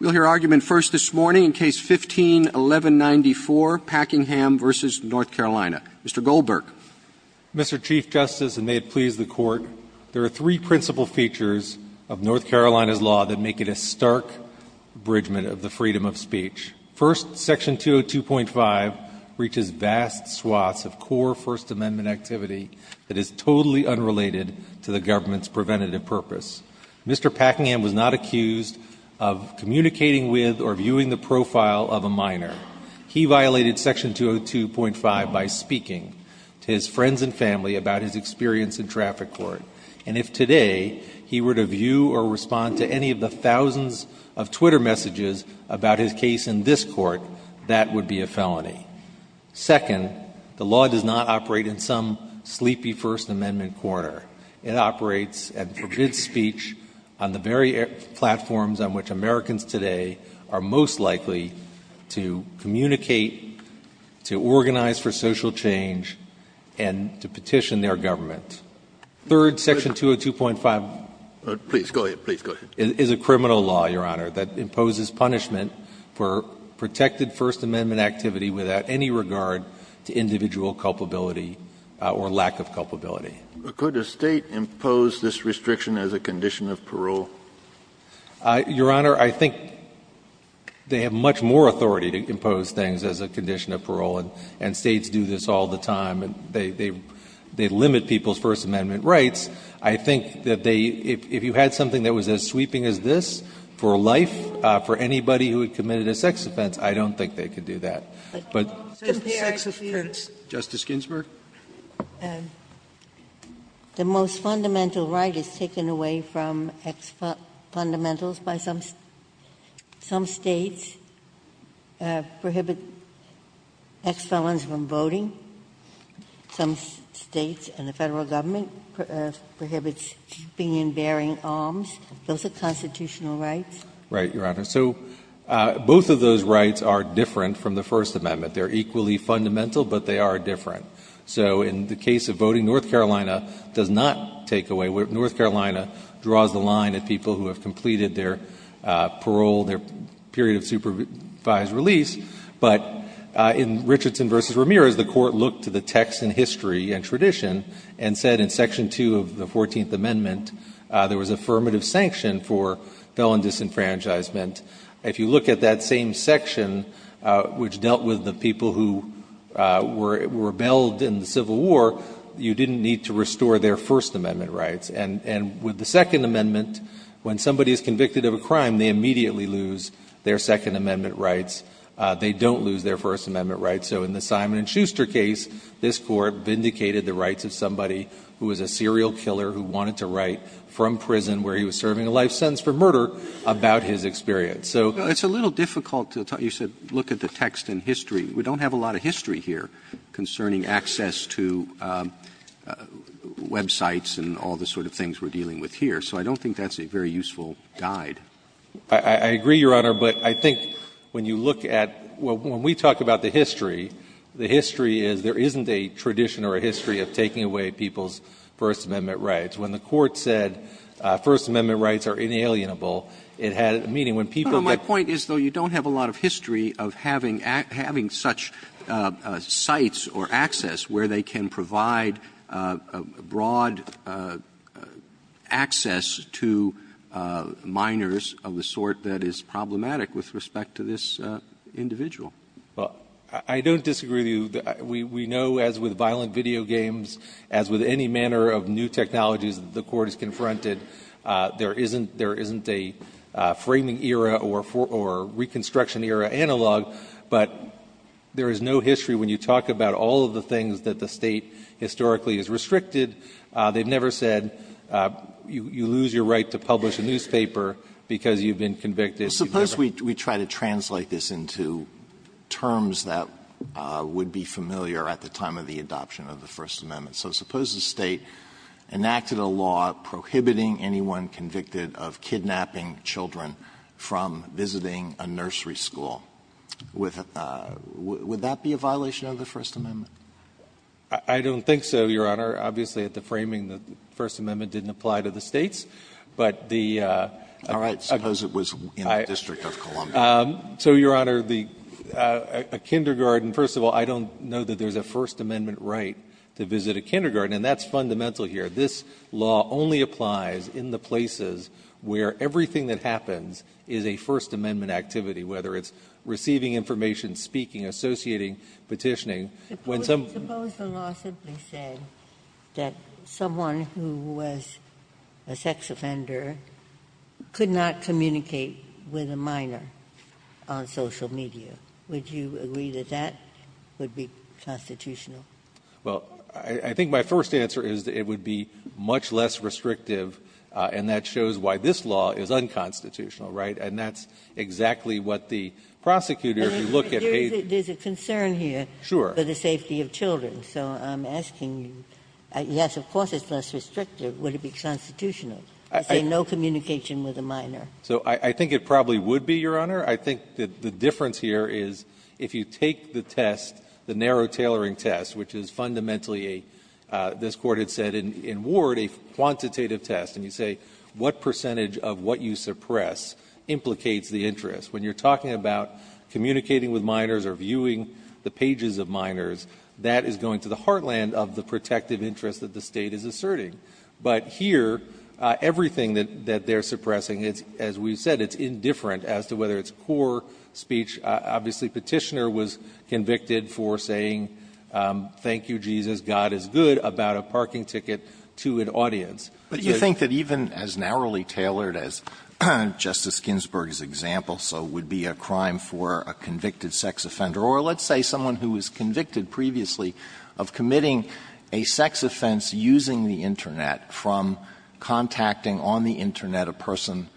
We'll hear argument first this morning in Case 15-1194, Packingham v. North Carolina. Mr. Goldberg. Mr. Chief Justice, and may it please the Court, there are three principal features of North Carolina's law that make it a stark abridgment of the freedom of speech. First, Section 202.5 reaches vast swaths of core First Amendment activity that is totally unrelated to the government's preventative purpose. Mr. Packingham was not accused of communicating with or viewing the profile of a minor. He violated Section 202.5 by speaking to his friends and family about his experience in traffic court. And if today he were to view or respond to any of the thousands of Twitter messages about his case in this court, that would be a felony. Second, the law does not operate in some sleepy First Amendment corner. It operates and forbids speech on the very platforms on which Americans today are most likely to communicate, to organize for social change, and to petition their government. Third, Section 202.5 Please go ahead. Please go ahead. Is a criminal law, Your Honor, that imposes punishment for protected First Amendment activity without any regard to individual culpability or lack of culpability. Could a State impose this restriction as a condition of parole? Your Honor, I think they have much more authority to impose things as a condition of parole. And States do this all the time. And they limit people's First Amendment rights. I think that they, if you had something that was as sweeping as this for life, for anybody who had committed a sex offense, I don't think they could do that. But sex offense. Justice Ginsburg. The most fundamental right is taken away from ex-fundamentals by some States, prohibit ex-felons from voting. Some States and the Federal government prohibits keeping and bearing arms. Those are constitutional rights. Right, Your Honor. So both of those rights are different from the First Amendment. They're equally fundamental, but they are different. So in the case of voting, North Carolina does not take away. North Carolina draws the line at people who have completed their parole, their period of supervised release. But in Richardson v. Ramirez, the Court looked to the text and history and tradition and said in Section 2 of the 14th Amendment, there was affirmative sanction for felon disenfranchisement. If you look at that same section, which dealt with the people who were rebelled in the Civil War, you didn't need to restore their First Amendment rights. And with the Second Amendment, when somebody is convicted of a crime, they immediately lose their Second Amendment rights. They don't lose their First Amendment rights. So in the Simon and Schuster case, this Court vindicated the rights of somebody who was a serial killer who wanted to write from prison where he was serving a life sentence for murder about his experience. So it's a little difficult to tell. You said look at the text and history. We don't have a lot of history here concerning access to websites and all the sort of things we're dealing with here. So I don't think that's a very useful guide. I agree, Your Honor. But I think when you look at, when we talk about the history, the history is there isn't a tradition or a history of taking away people's First Amendment rights. When the Court said First Amendment rights are inalienable, it had meaning. My point is, though, you don't have a lot of history of having such sites or access where they can provide broad access to minors of the sort that is problematic with respect to this individual. I don't disagree with you. We know, as with violent video games, as with any manner of new technologies that the Court has confronted, there isn't a framing era or reconstruction era analog. But there is no history when you talk about all of the things that the state historically has restricted. They've never said you lose your right to publish a newspaper because you've been convicted. Suppose we try to translate this into terms that would be familiar at the time of the adoption of the First Amendment. So suppose the state enacted a law prohibiting anyone convicted of kidnapping children from visiting a nursery school. Would that be a violation of the First Amendment? I don't think so, Your Honor. Obviously, at the framing, the First Amendment didn't apply to the states. But the uh, All right, suppose it was in the District of Columbia. So, Your Honor, a kindergarten, first of all, I don't know that there's a First Amendment right to visit a kindergarten. And that's fundamental here. This law only applies in the places where everything that happens is a First Amendment activity, whether it's receiving information, speaking, associating, petitioning. When some Suppose the law simply said that someone who was a sex offender could not communicate with a minor on social media. Would you agree that that would be constitutional? Well, I think my first answer is that it would be much less restrictive, and that shows why this law is unconstitutional, right? And that's exactly what the prosecutor, if you look at a There's a concern here for the safety of children. So I'm asking you, yes, of course, it's less restrictive. Would it be constitutional to say no communication with a minor? So I think it probably would be, Your Honor. I think that the difference here is if you take the test, the narrow tailoring test, which is fundamentally a, this Court had said in Ward, a quantitative test. And you say, what percentage of what you suppress implicates the interest? When you're talking about communicating with minors or viewing the pages of minors, that is going to the heartland of the protective interest that the state is asserting. But here, everything that they're suppressing, as we've said, it's indifferent as to whether it's a good or a poor speech. Obviously, Petitioner was convicted for saying, thank you, Jesus, God is good, about a parking ticket to an audience. But you think that even as narrowly tailored as Justice Ginsburg's example, so it would be a crime for a convicted sex offender, or let's say someone who was convicted previously of committing a sex offense using the internet from contacting on the internet a person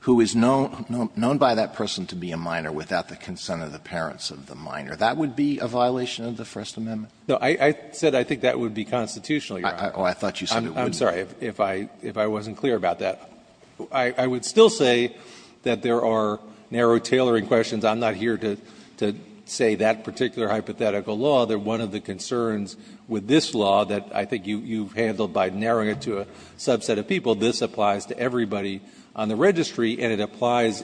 who is known by that person to be a minor without the consent of the parents of the minor, that would be a violation of the First Amendment? No. I said I think that would be constitutional, Your Honor. Oh, I thought you said it wouldn't. I'm sorry, if I wasn't clear about that. I would still say that there are narrow tailoring questions. I'm not here to say that particular hypothetical law. They're one of the concerns with this law that I think you've handled by narrowing it to a subset of people. This applies to everybody on the registry, and it applies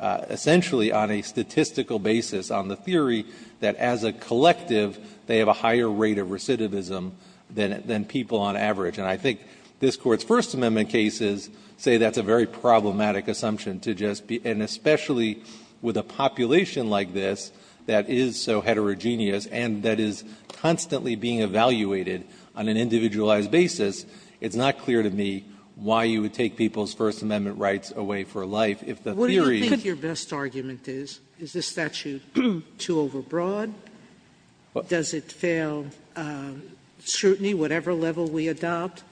essentially on a statistical basis on the theory that as a collective, they have a higher rate of recidivism than people on average. And I think this Court's First Amendment cases say that's a very problematic assumption to just be, and especially with a population like this that is so heterogeneous and that is constantly being evaluated on an individualized basis, it's not clear to me why you would take people's First Amendment rights away for life if the theory could be. Sotomayor, what do you think your best argument is? Is this statute too overbroad? Does it fail scrutiny, whatever level we adopt?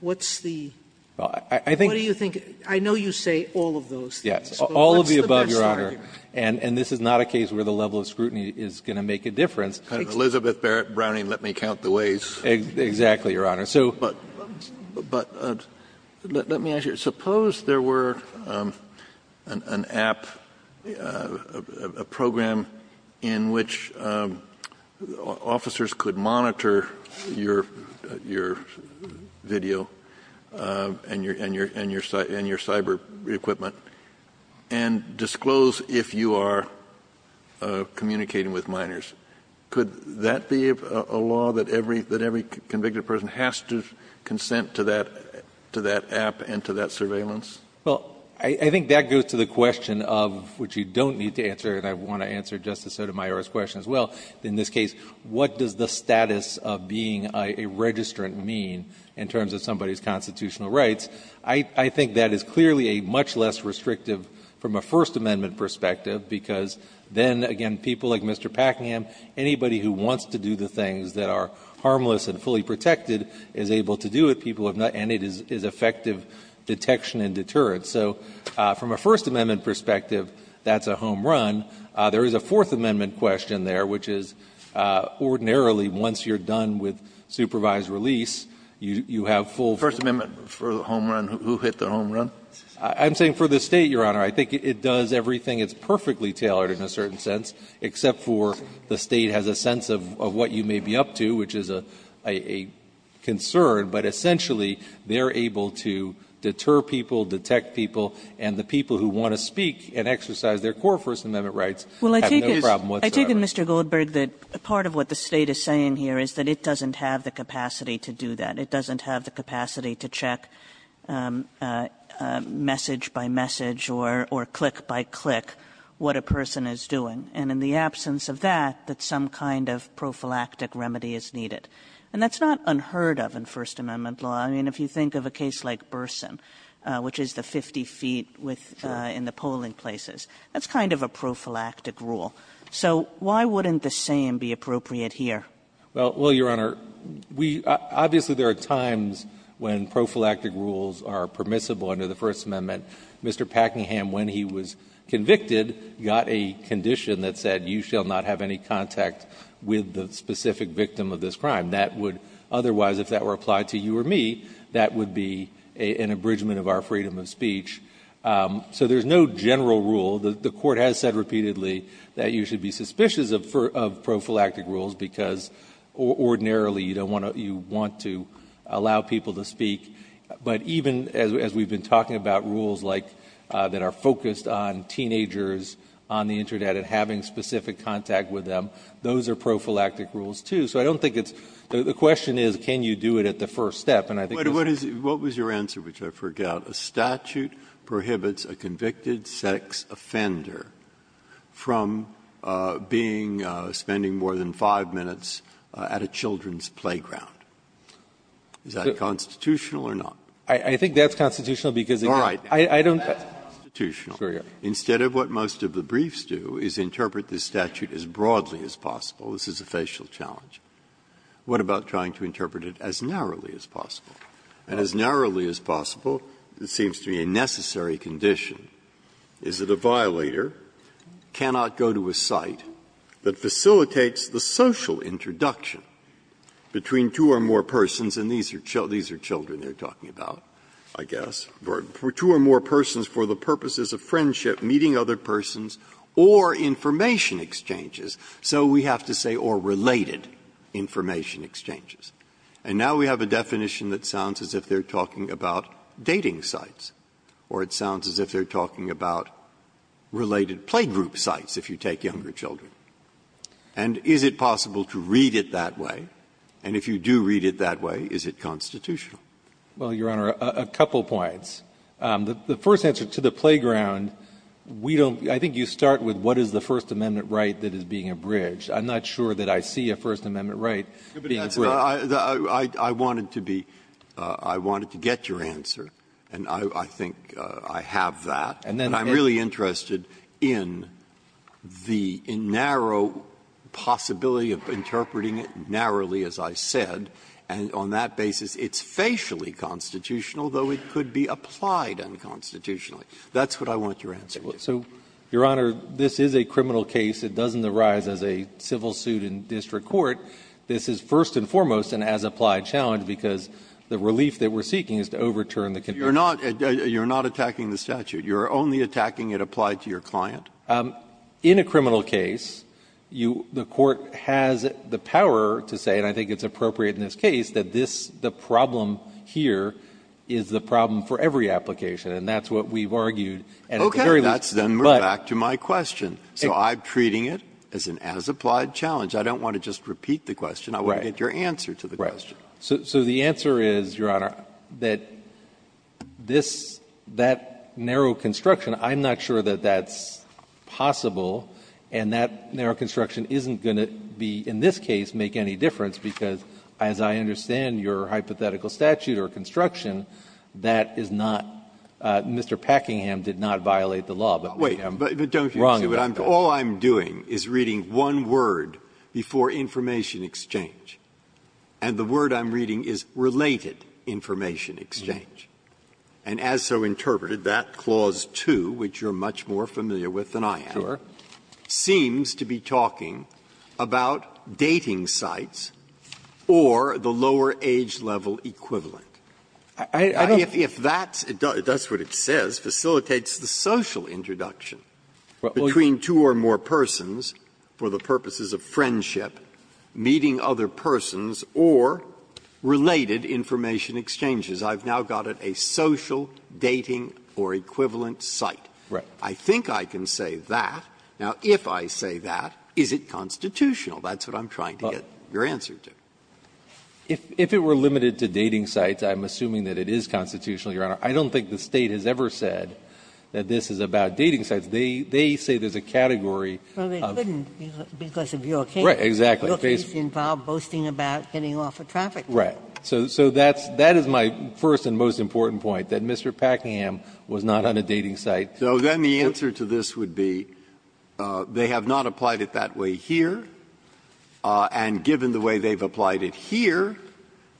What's the – what do you think – I know you say all of those things. Yes, all of the above, Your Honor, and this is not a case where the level of scrutiny is going to make a difference. Elizabeth Browning, let me count the ways. Exactly, Your Honor. But let me ask you, suppose there were an app, a program in which officers could monitor your video and your cyber equipment and disclose if you are communicating with minors. Could that be a law that every convicted person has to consent to that app and to that surveillance? Well, I think that goes to the question of, which you don't need to answer, and I want to answer Justice Sotomayor's question as well, in this case, what does the status of being a registrant mean in terms of somebody's constitutional rights? I think that is clearly a much less restrictive from a First Amendment perspective because then, again, people like Mr. Packingham, anybody who wants to do the things that are harmless and fully protected is able to do it, people have not, and it is effective detection and deterrence. So from a First Amendment perspective, that's a home run. There is a Fourth Amendment question there, which is ordinarily once you're done with supervised release, you have full ---- First Amendment for the home run? I'm saying for the State, Your Honor. I think it does everything. It's perfectly tailored in a certain sense, except for the State has a sense of what you may be up to, which is a concern, but essentially, they're able to deter people, detect people, and the people who want to speak and exercise their core First Amendment rights have no problem whatsoever. I take it, Mr. Goldberg, that part of what the State is saying here is that it doesn't have the capacity to do that. It doesn't have the capacity to do it message by message or click by click, what a person is doing, and in the absence of that, that some kind of prophylactic remedy is needed. And that's not unheard of in First Amendment law. I mean, if you think of a case like Burson, which is the 50 feet with the polling places, that's kind of a prophylactic rule. So why wouldn't the same be appropriate here? Well, Your Honor, we – obviously, there are times when prophylactic rules are permissible under the First Amendment. Mr. Packingham, when he was convicted, got a condition that said you shall not have any contact with the specific victim of this crime. That would otherwise, if that were applied to you or me, that would be an abridgment of our freedom of speech. So there's no general rule. The Court has said repeatedly that you should be suspicious of prophylactic rules because ordinarily, you don't want to – you want to allow people to speak. But even as we've been talking about rules like – that are focused on teenagers on the internet and having specific contact with them, those are prophylactic rules too. So I don't think it's – the question is, can you do it at the first step? And I think – But what is – what was your answer, which I forgot? A statute prohibits a convicted sex offender from being – spending more than 5 minutes at a children's playground. Is that constitutional or not? I think that's constitutional because it – All right. I don't – That's constitutional. Instead of what most of the briefs do is interpret the statute as broadly as possible. What about trying to interpret it as narrowly as possible? And as narrowly as possible, it seems to be a necessary condition. Is it a violator cannot go to a site that facilitates the social introduction between two or more persons – and these are children they're talking about, I guess – or two or more persons for the purposes of friendship, meeting other persons, or information exchanges? So we have to say, or related information exchanges. And now we have a definition that sounds as if they're talking about dating sites, or it sounds as if they're talking about related playgroup sites if you take younger children. And is it possible to read it that way? And if you do read it that way, is it constitutional? Well, Your Honor, a couple points. The first answer to the playground, we don't – I think you start with what is the First Amendment right that is being abridged. I'm not sure that I see a First Amendment right being abridged. But I wanted to be – I wanted to get your answer, and I think I have that. And I'm really interested in the narrow possibility of interpreting it narrowly, as I said. And on that basis, it's facially constitutional, though it could be applied unconstitutionally. That's what I want your answer to. So, Your Honor, this is a criminal case. It doesn't arise as a civil suit in district court. This is first and foremost an as-applied challenge because the relief that we're seeking is to overturn the condition. You're not attacking the statute. You're only attacking it applied to your client? In a criminal case, you – the court has the power to say, and I think it's appropriate in this case, that this – the problem here is the problem for every application. And that's what we've argued. Okay. That's – then we're back to my question. So I'm treating it as an as-applied challenge. I don't want to just repeat the question. Right. I want to get your answer to the question. So the answer is, Your Honor, that this – that narrow construction, I'm not sure that that's possible. And that narrow construction isn't going to be, in this case, make any difference because, as I understand your hypothetical statute or construction, that is not – Mr. Packingham did not violate the law, but we have wronged him. But don't you see what I'm – all I'm doing is reading one word before information exchange, and the word I'm reading is related information exchange. And as so interpreted, that Clause 2, which you're much more familiar with than I am, seems to be talking about dating sites or the lower age-level equivalent. I don't think that's what it says facilitates the social introduction. Between two or more persons for the purposes of friendship, meeting other persons, or related information exchanges. I've now got a social dating or equivalent site. Right. I think I can say that. Now, if I say that, is it constitutional? That's what I'm trying to get your answer to. If it were limited to dating sites, I'm assuming that it is constitutional, Your Honor. I don't think the State has ever said that this is about dating sites. They say there's a category of – Well, they couldn't because of your case. Right, exactly. Your case involved boasting about getting off of traffic. Right. So that's – that is my first and most important point, that Mr. Packham was not on a dating site. So then the answer to this would be they have not applied it that way here, and given the way they've applied it here,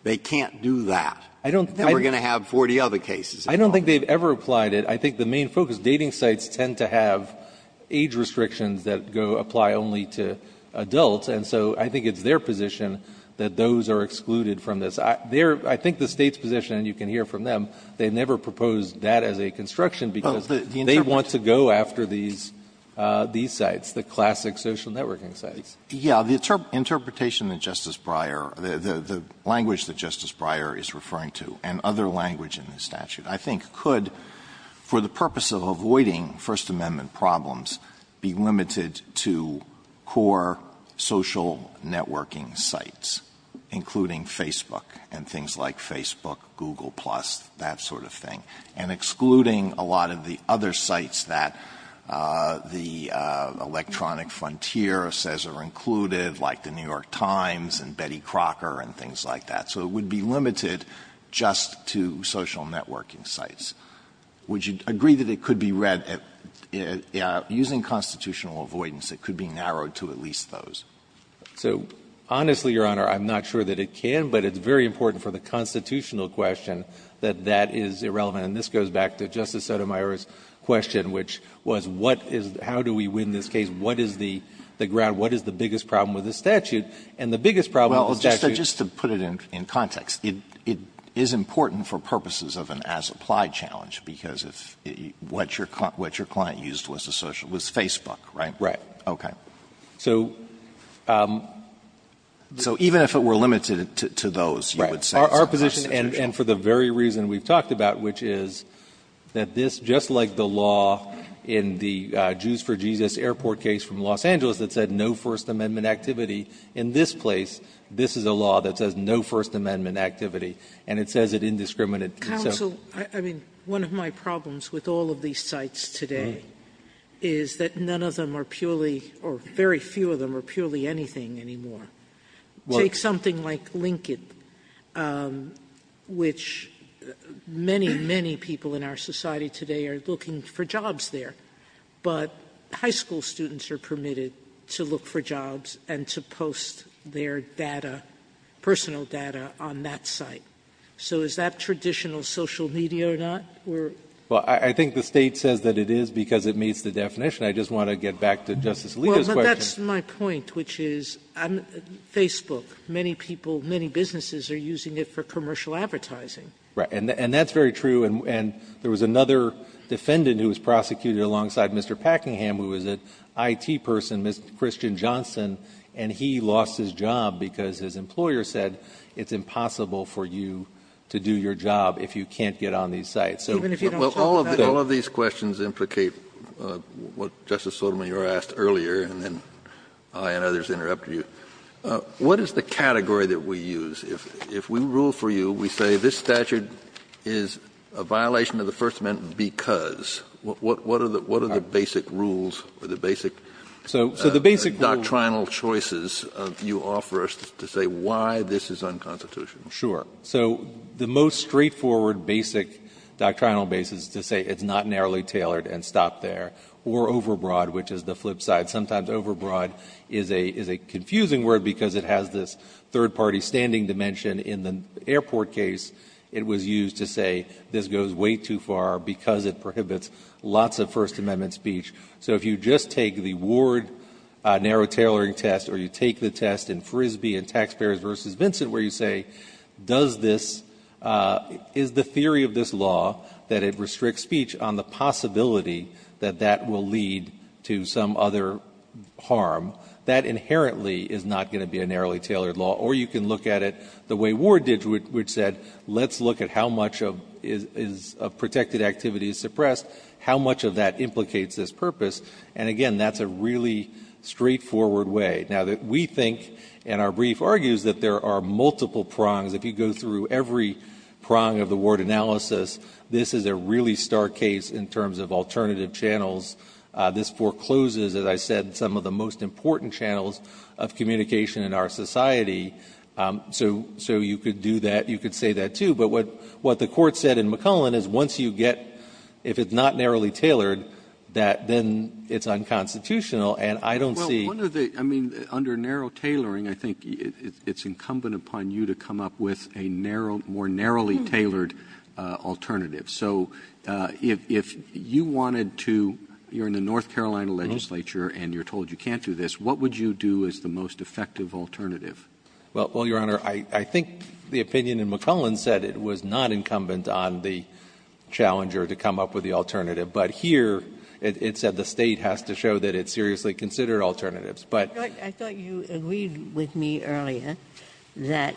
they can't do that. I don't – Then we're going to have 40 other cases. I don't think they've ever applied it. I think the main focus – dating sites tend to have age restrictions that go – apply only to adults, and so I think it's their position that those are excluded from this. Their – I think the State's position, and you can hear from them, they've never proposed that as a construction because they want to go after these – these sites, the classic social networking sites. Yeah. The interpretation that Justice Breyer – the language that Justice Breyer is referring to, and other language in the statute, I think could, for the purpose of avoiding First Amendment problems, be limited to core social networking sites, including Facebook and things like Facebook, Google Plus, that sort of thing, and excluding a lot of the other sites that the Electronic Frontier says are included, like The New York Times and Betty Crocker and things like that. So it would be limited just to social networking sites. Would you agree that it could be read – using constitutional avoidance, it could be narrowed to at least those? So honestly, Your Honor, I'm not sure that it can, but it's very important for the constitutional question that that is irrelevant. And this goes back to Justice Sotomayor's question, which was what is – how do we win this case? What is the ground – what is the biggest problem with the statute? And the biggest problem with the statute – Alito, just to put it in context, it is important for purposes of an as-applied challenge, because if – what your client used was a social – was Facebook, right? Right. Okay. So – So even if it were limited to those, you would say it's constitutional? Right. Our position, and for the very reason we've talked about, which is that this, just like the law in the Jews for Jesus Airport case from Los Angeles that said no First Amendment activity, and it says it indiscriminate itself. Counsel, I mean, one of my problems with all of these sites today is that none of them are purely – or very few of them are purely anything anymore. Well – Take something like Lincoln, which many, many people in our society today are looking for jobs there, but high school students are permitted to look for jobs and to post their data, personal data, on that site. So is that traditional social media or not? We're – Well, I think the State says that it is because it meets the definition. I just want to get back to Justice Alito's question. Well, but that's my point, which is Facebook, many people, many businesses are using it for commercial advertising. Right. And that's very true. And there was another defendant who was prosecuted alongside Mr. Packingham who was an IT person, Mr. Christian Johnson, and he lost his job because his employer said it's impossible for you to do your job if you can't get on these sites. So – Even if you don't talk about it – Well, all of these questions implicate what Justice Sotomayor asked earlier, and then I and others interrupted you. What is the category that we use? If we rule for you, we say this statute is a violation of the First Amendment because What are the basic rules or the basic doctrinal choices you offer us to say why this is unconstitutional? Sure. So the most straightforward basic doctrinal basis to say it's not narrowly tailored and stop there, or overbroad, which is the flip side. Sometimes overbroad is a confusing word because it has this third-party standing dimension. In the airport case, it was used to say this goes way too far because it prohibits lots of First Amendment speech. So if you just take the Ward narrow tailoring test or you take the test in Frisbee and Taxpayers v. Vincent where you say, does this – is the theory of this law that it restricts speech on the possibility that that will lead to some other harm, that inherently is not going to be a narrowly tailored law. Or you can look at it the way Ward did, which said, let's look at how much of protected activity is suppressed, how much of that implicates this purpose. And again, that's a really straightforward way. Now we think, and our brief argues, that there are multiple prongs. If you go through every prong of the Ward analysis, this is a really stark case in terms of alternative channels. This forecloses, as I said, some of the most important channels of communication in our society. So you could do that. You could say that, too. But what the Court said in McClellan is once you get – if it's not narrowly tailored, that then it's unconstitutional. And I don't see – JUSTICE ROBERTS – Well, one of the – I mean, under narrow tailoring, I think it's incumbent upon you to come up with a narrow – more narrowly tailored alternative. So if you wanted to – you're in the North Carolina legislature and you're told you can't do this, what would you do as the most effective alternative? MR. CLEMENT – Well, Your Honor, I think the opinion in McClellan said it was not incumbent on the challenger to come up with the alternative. But here it said the State has to show that it seriously considered alternatives. But – JUSTICE GINSBURG – I thought you agreed with me earlier that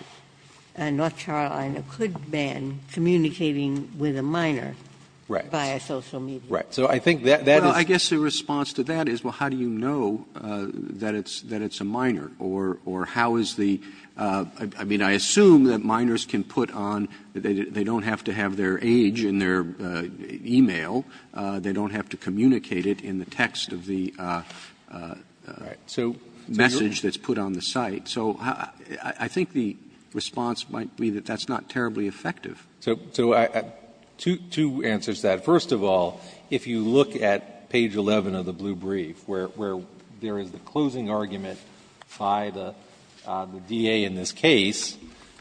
North Carolina could ban communicating with a minor via social media. CLEMENT – Right. Right. So I think that is – JUSTICE BREYER – Well, I guess the response to that is, well, how do you know that it's a minor? Or how is the – I mean, I assume that minors can put on – they don't have to have their age in their email. They don't have to communicate it in the text of the message that's put on the site. So I think the response might be that that's not terribly effective. CLEMENT – So two answers to that. First of all, if you look at page 11 of the blue brief, where there is the closing argument by the DA in this case,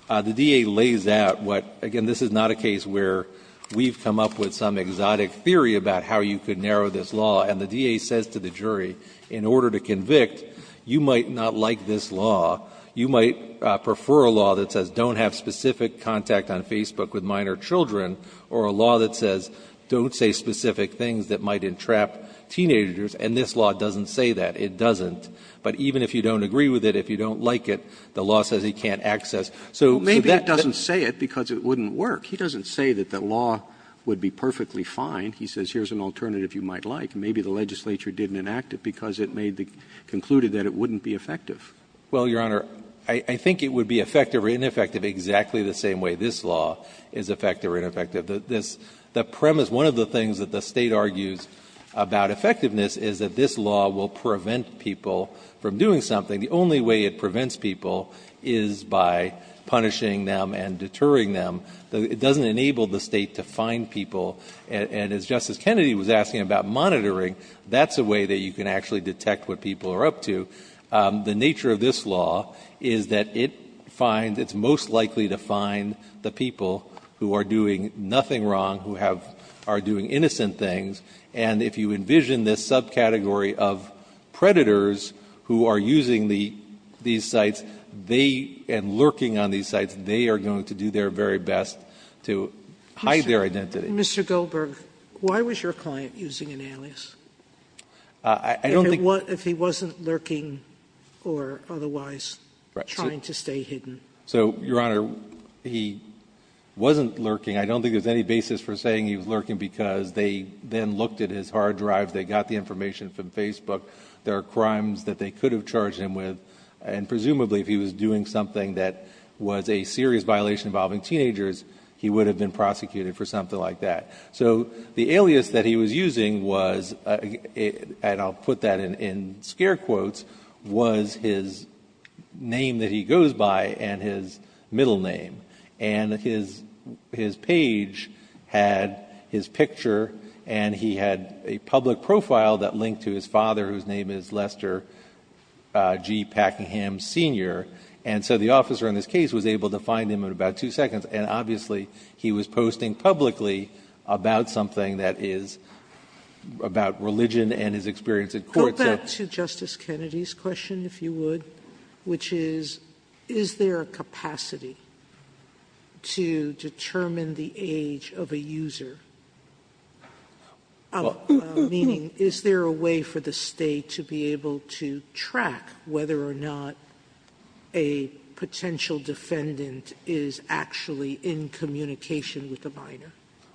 the DA lays out what – again, this is not a case where we've come up with some exotic theory about how you could narrow this law. And the DA says to the jury, in order to convict, you might not like this law, you might prefer a law that says don't have specific contact on Facebook with minor children, or a law that says don't say specific things that might entrap teenagers, and this law doesn't say that. It doesn't. But even if you don't agree with it, if you don't like it, the law says he can't access. So to that – JUSTICE ROBERTS – Well, maybe it doesn't say it because it wouldn't work. He doesn't say that the law would be perfectly fine. He says here's an alternative you might like. Maybe the legislature didn't enact it because it made the – concluded that it wouldn't MR. CLEMENT – Well, Your Honor, I think it would be effective or ineffective exactly the same way this law is effective or ineffective. This – the premise, one of the things that the State argues about effectiveness is that this law will prevent people from doing something. The only way it prevents people is by punishing them and deterring them. It doesn't enable the State to fine people. And as Justice Kennedy was asking about monitoring, that's a way that you can actually detect what people are up to. The nature of this law is that it finds – it's most likely to find the people who are doing nothing wrong, who have – are doing innocent things. And if you envision this subcategory of predators who are using the – these sites, they – and lurking on these sites, they are going to do their very best to hide their identity. SOTOMAYOR – Mr. Goldberg, why was your client using an alias? CLEMENT – I don't think – SOTOMAYOR – If he wasn't lurking or otherwise trying to stay hidden. CLEMENT – So, Your Honor, he wasn't lurking. I don't think there's any basis for saying he was lurking because they then looked at his hard drive. They got the information from Facebook. There are crimes that they could have charged him with. And presumably, if he was doing something that was a serious violation involving teenagers, he would have been prosecuted for something like that. So the alias that he was using was – and I'll put that in scare quotes – was his name that he goes by and his middle name. And his page had his picture and he had a public profile that linked to his father, whose name is Lester G. Packingham, Sr. And so the officer in this case was able to find him in about two seconds. And obviously, he was posting publicly about something that is about religion and his experience in court. SOTOMAYOR – Go back to Justice Kennedy's question, if you would, which is, is there a way for the State to be able to track whether or not a potential defendant is actually in communication with a minor?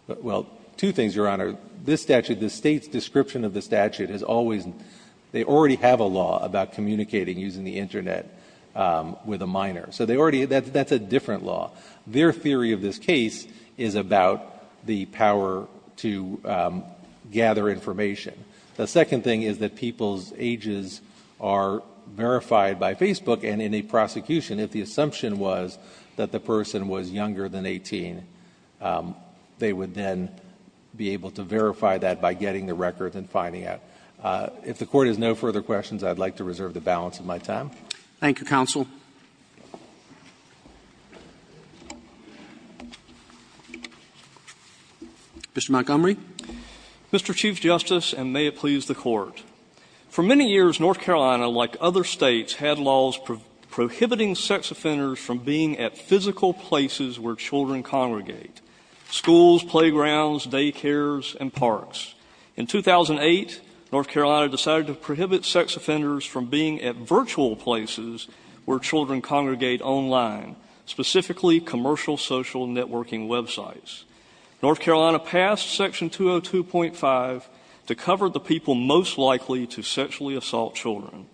JOHNSON – Well, two things, Your Honor. This statute, the State's description of the statute has always – they already have a law about communicating using the Internet with a minor. So they already – that's a different law. Their theory of this case is about the power to gather information. The second thing is that people's ages are verified by Facebook. And in a prosecution, if the assumption was that the person was younger than 18, they would then be able to verify that by getting the record and finding out. If the Court has no further questions, I'd like to reserve the balance of my time. Thank you, counsel. Mr. Montgomery. MONTGOMERY – Mr. Chief Justice, and may it please the Court. For many years, North Carolina, like other States, had laws prohibiting sex offenders from being at physical places where children congregate, schools, playgrounds, daycares, and parks. In 2008, North Carolina decided to prohibit sex offenders from being at virtual places where children congregate online, specifically commercial social networking websites. North Carolina passed Section 202.5 to cover the people most likely to sexually assault children.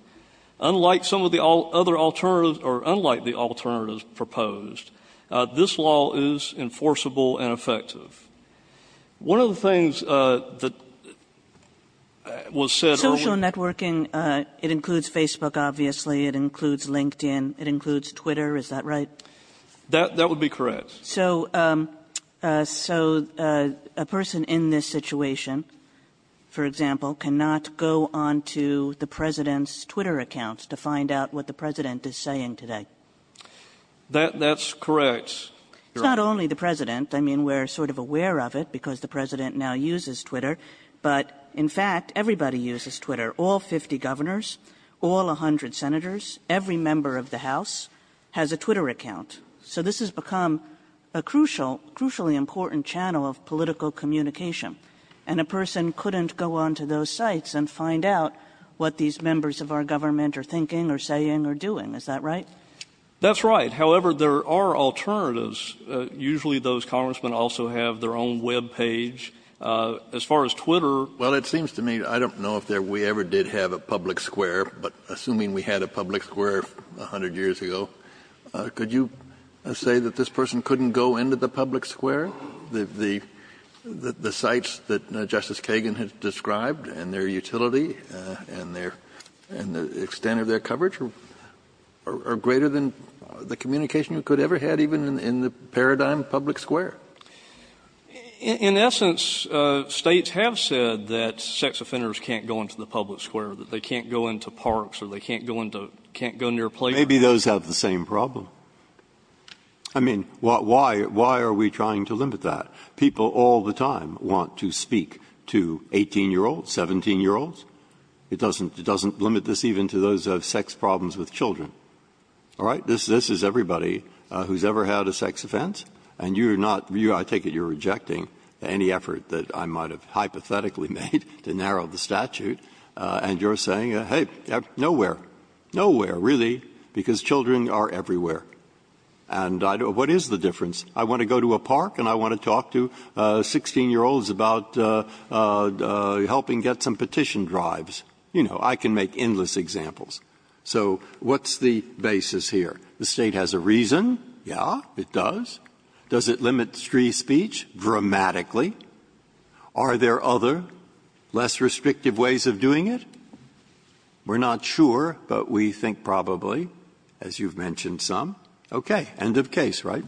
Unlike some of the other alternatives – or unlike the alternatives proposed, this law is enforceable and effective. One of the things that was said earlier— Social networking, it includes Facebook, obviously. It includes LinkedIn. It includes Twitter. Is that right? That would be correct. So a person in this situation, for example, cannot go onto the President's Twitter accounts to find out what the President is saying today? That's correct. It's not only the President. We're sort of aware of it because the President now uses Twitter. But in fact, everybody uses Twitter. All 50 governors, all 100 senators, every member of the House has a Twitter account. So this has become a crucially important channel of political communication. And a person couldn't go onto those sites and find out what these members of our government are thinking or saying or doing. Is that right? That's right. However, there are alternatives. Usually those congressmen also have their own web page. As far as Twitter— Well, it seems to me, I don't know if we ever did have a public square, but assuming we had a public square 100 years ago, could you say that this person couldn't go into the public square? The sites that Justice Kagan has described and their utility and the extent of their coverage are greater than the communication you could ever had even in the paradigm public square. In essence, states have said that sex offenders can't go into the public square, that they can't go into parks or they can't go near playgrounds. Maybe those have the same problem. I mean, why are we trying to limit that? People all the time want to speak to 18-year-olds, 17-year-olds. It doesn't limit this even to those who have sex problems with children. All right? This is everybody who's ever had a sex offense, and you're not — I take it you're rejecting any effort that I might have hypothetically made to narrow the statute, and you're saying, hey, nowhere. Nowhere, really, because children are everywhere. And what is the difference? I want to go to a park and I want to talk to 16-year-olds about helping get some petition drives. You know, I can make endless examples. So what's the basis here? The State has a reason? Yeah, it does. Does it limit free speech? Dramatically. Are there other, less restrictive ways of doing it? We're not sure, but we think probably, as you've mentioned, some. Okay. End of case, right?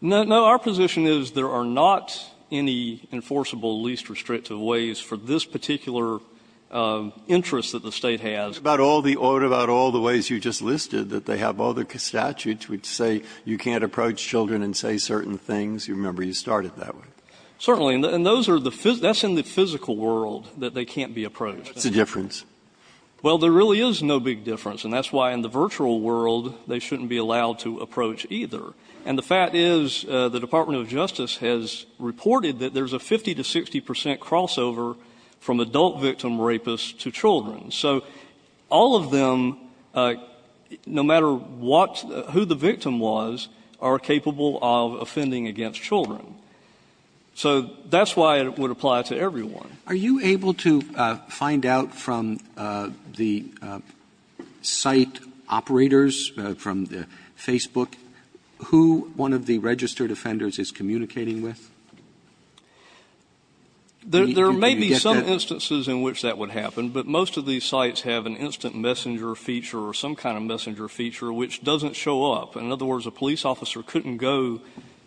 No, our position is there are not any enforceable, least restrictive ways for this particular interest that the State has. What about all the ways you just listed, that they have all the statutes which say you can't approach children and say certain things? You remember you started that way. Certainly. And those are the — that's in the physical world, that they can't be approached. What's the difference? Well, there really is no big difference, and that's why in the virtual world, they shouldn't be allowed to approach either. And the fact is, the Department of Justice has reported that there's a 50 to 60 percent crossover from adult victim rapists to children. So all of them, no matter what — who the victim was, are capable of offending against children. So that's why it would apply to everyone. Are you able to find out from the site operators, from Facebook, who one of the registered offenders is communicating with? There may be some instances in which that would happen, but most of these sites have an instant messenger feature or some kind of messenger feature which doesn't show up. In other words, a police officer couldn't go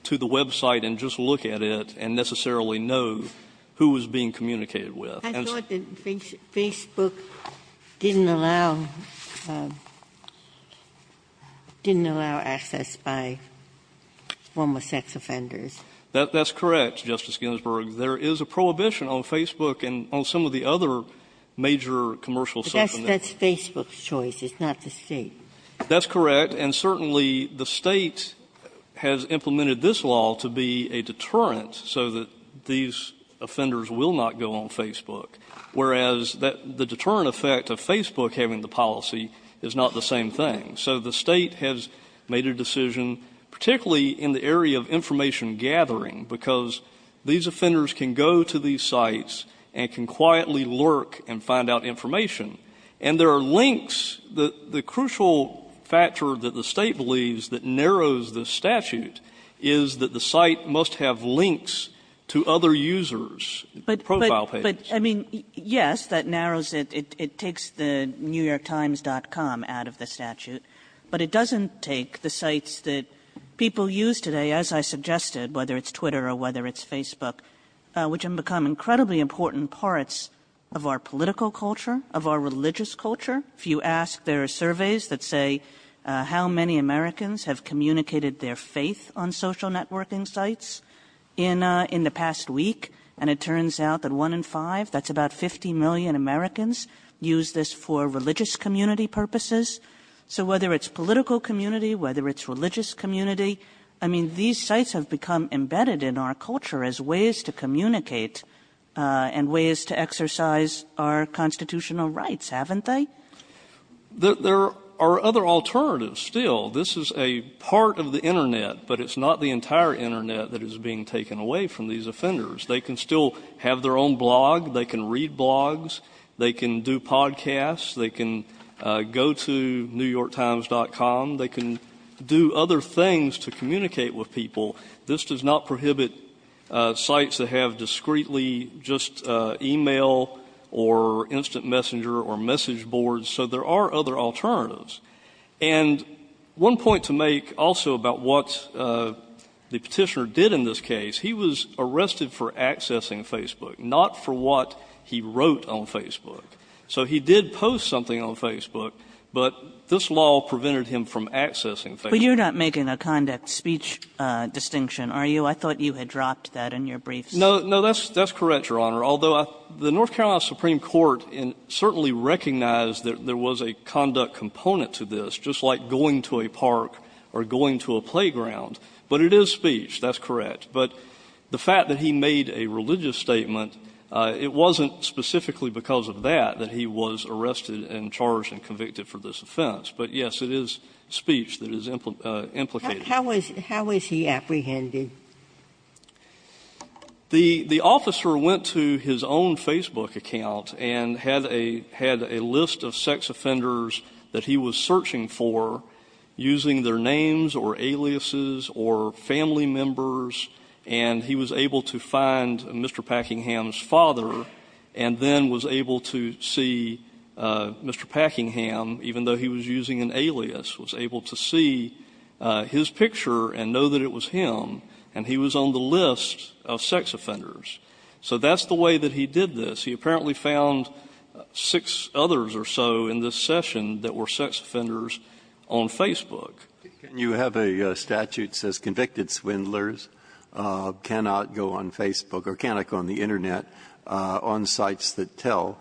to the website and just look at it and necessarily know who was being communicated with. I thought that Facebook didn't allow — didn't allow access by former sex offenders. That's correct, Justice Ginsburg. There is a prohibition on Facebook and on some of the other major commercial sites. But that's Facebook's choice. It's not the State. That's correct. And certainly the State has implemented this law to be a deterrent so that these offenders will not go on Facebook, whereas the deterrent effect of Facebook having the policy is not the same thing. So the State has made a decision, particularly in the area of information gathering, because these offenders can go to these sites and can quietly lurk and find out information. And there are links. The crucial factor that the State believes that narrows the statute is that the site must have links to other users, profile pages. But, I mean, yes, that narrows it. It takes the NewYorkTimes.com out of the statute. But it doesn't take the sites that people use today, as I suggested, whether it's Twitter or whether it's Facebook, which have become incredibly important parts of our religious culture. If you ask, there are surveys that say how many Americans have communicated their faith on social networking sites in the past week. And it turns out that one in five, that's about 50 million Americans, use this for religious community purposes. So whether it's political community, whether it's religious community, I mean, these sites have become embedded in our culture as ways to communicate and ways to There are other alternatives still. This is a part of the Internet. But it's not the entire Internet that is being taken away from these offenders. They can still have their own blog. They can read blogs. They can do podcasts. They can go to NewYorkTimes.com. They can do other things to communicate with people. This does not prohibit sites that have discreetly just email or instant messenger or message boards. So there are other alternatives. And one point to make also about what the petitioner did in this case, he was arrested for accessing Facebook, not for what he wrote on Facebook. So he did post something on Facebook, but this law prevented him from accessing Facebook. But you're not making a conduct speech distinction, are you? I thought you had dropped that in your briefs. No, no, that's correct, Your Honor. Although the North Carolina Supreme Court certainly recognized that there was a conduct component to this, just like going to a park or going to a playground. But it is speech. That's correct. But the fact that he made a religious statement, it wasn't specifically because of that that he was arrested and charged and convicted for this offense. But, yes, it is speech that is implicated. How was he apprehended? The officer went to his own Facebook account and had a list of sex offenders that he was searching for using their names or aliases or family members. And he was able to find Mr. Packingham's father and then was able to see Mr. Packingham, even though he was using an alias, was able to see his picture and know that it was him. And he was on the list of sex offenders. So that's the way that he did this. He apparently found six others or so in this session that were sex offenders on Facebook. Can you have a statute that says convicted swindlers cannot go on Facebook or cannot go on the Internet on sites that tell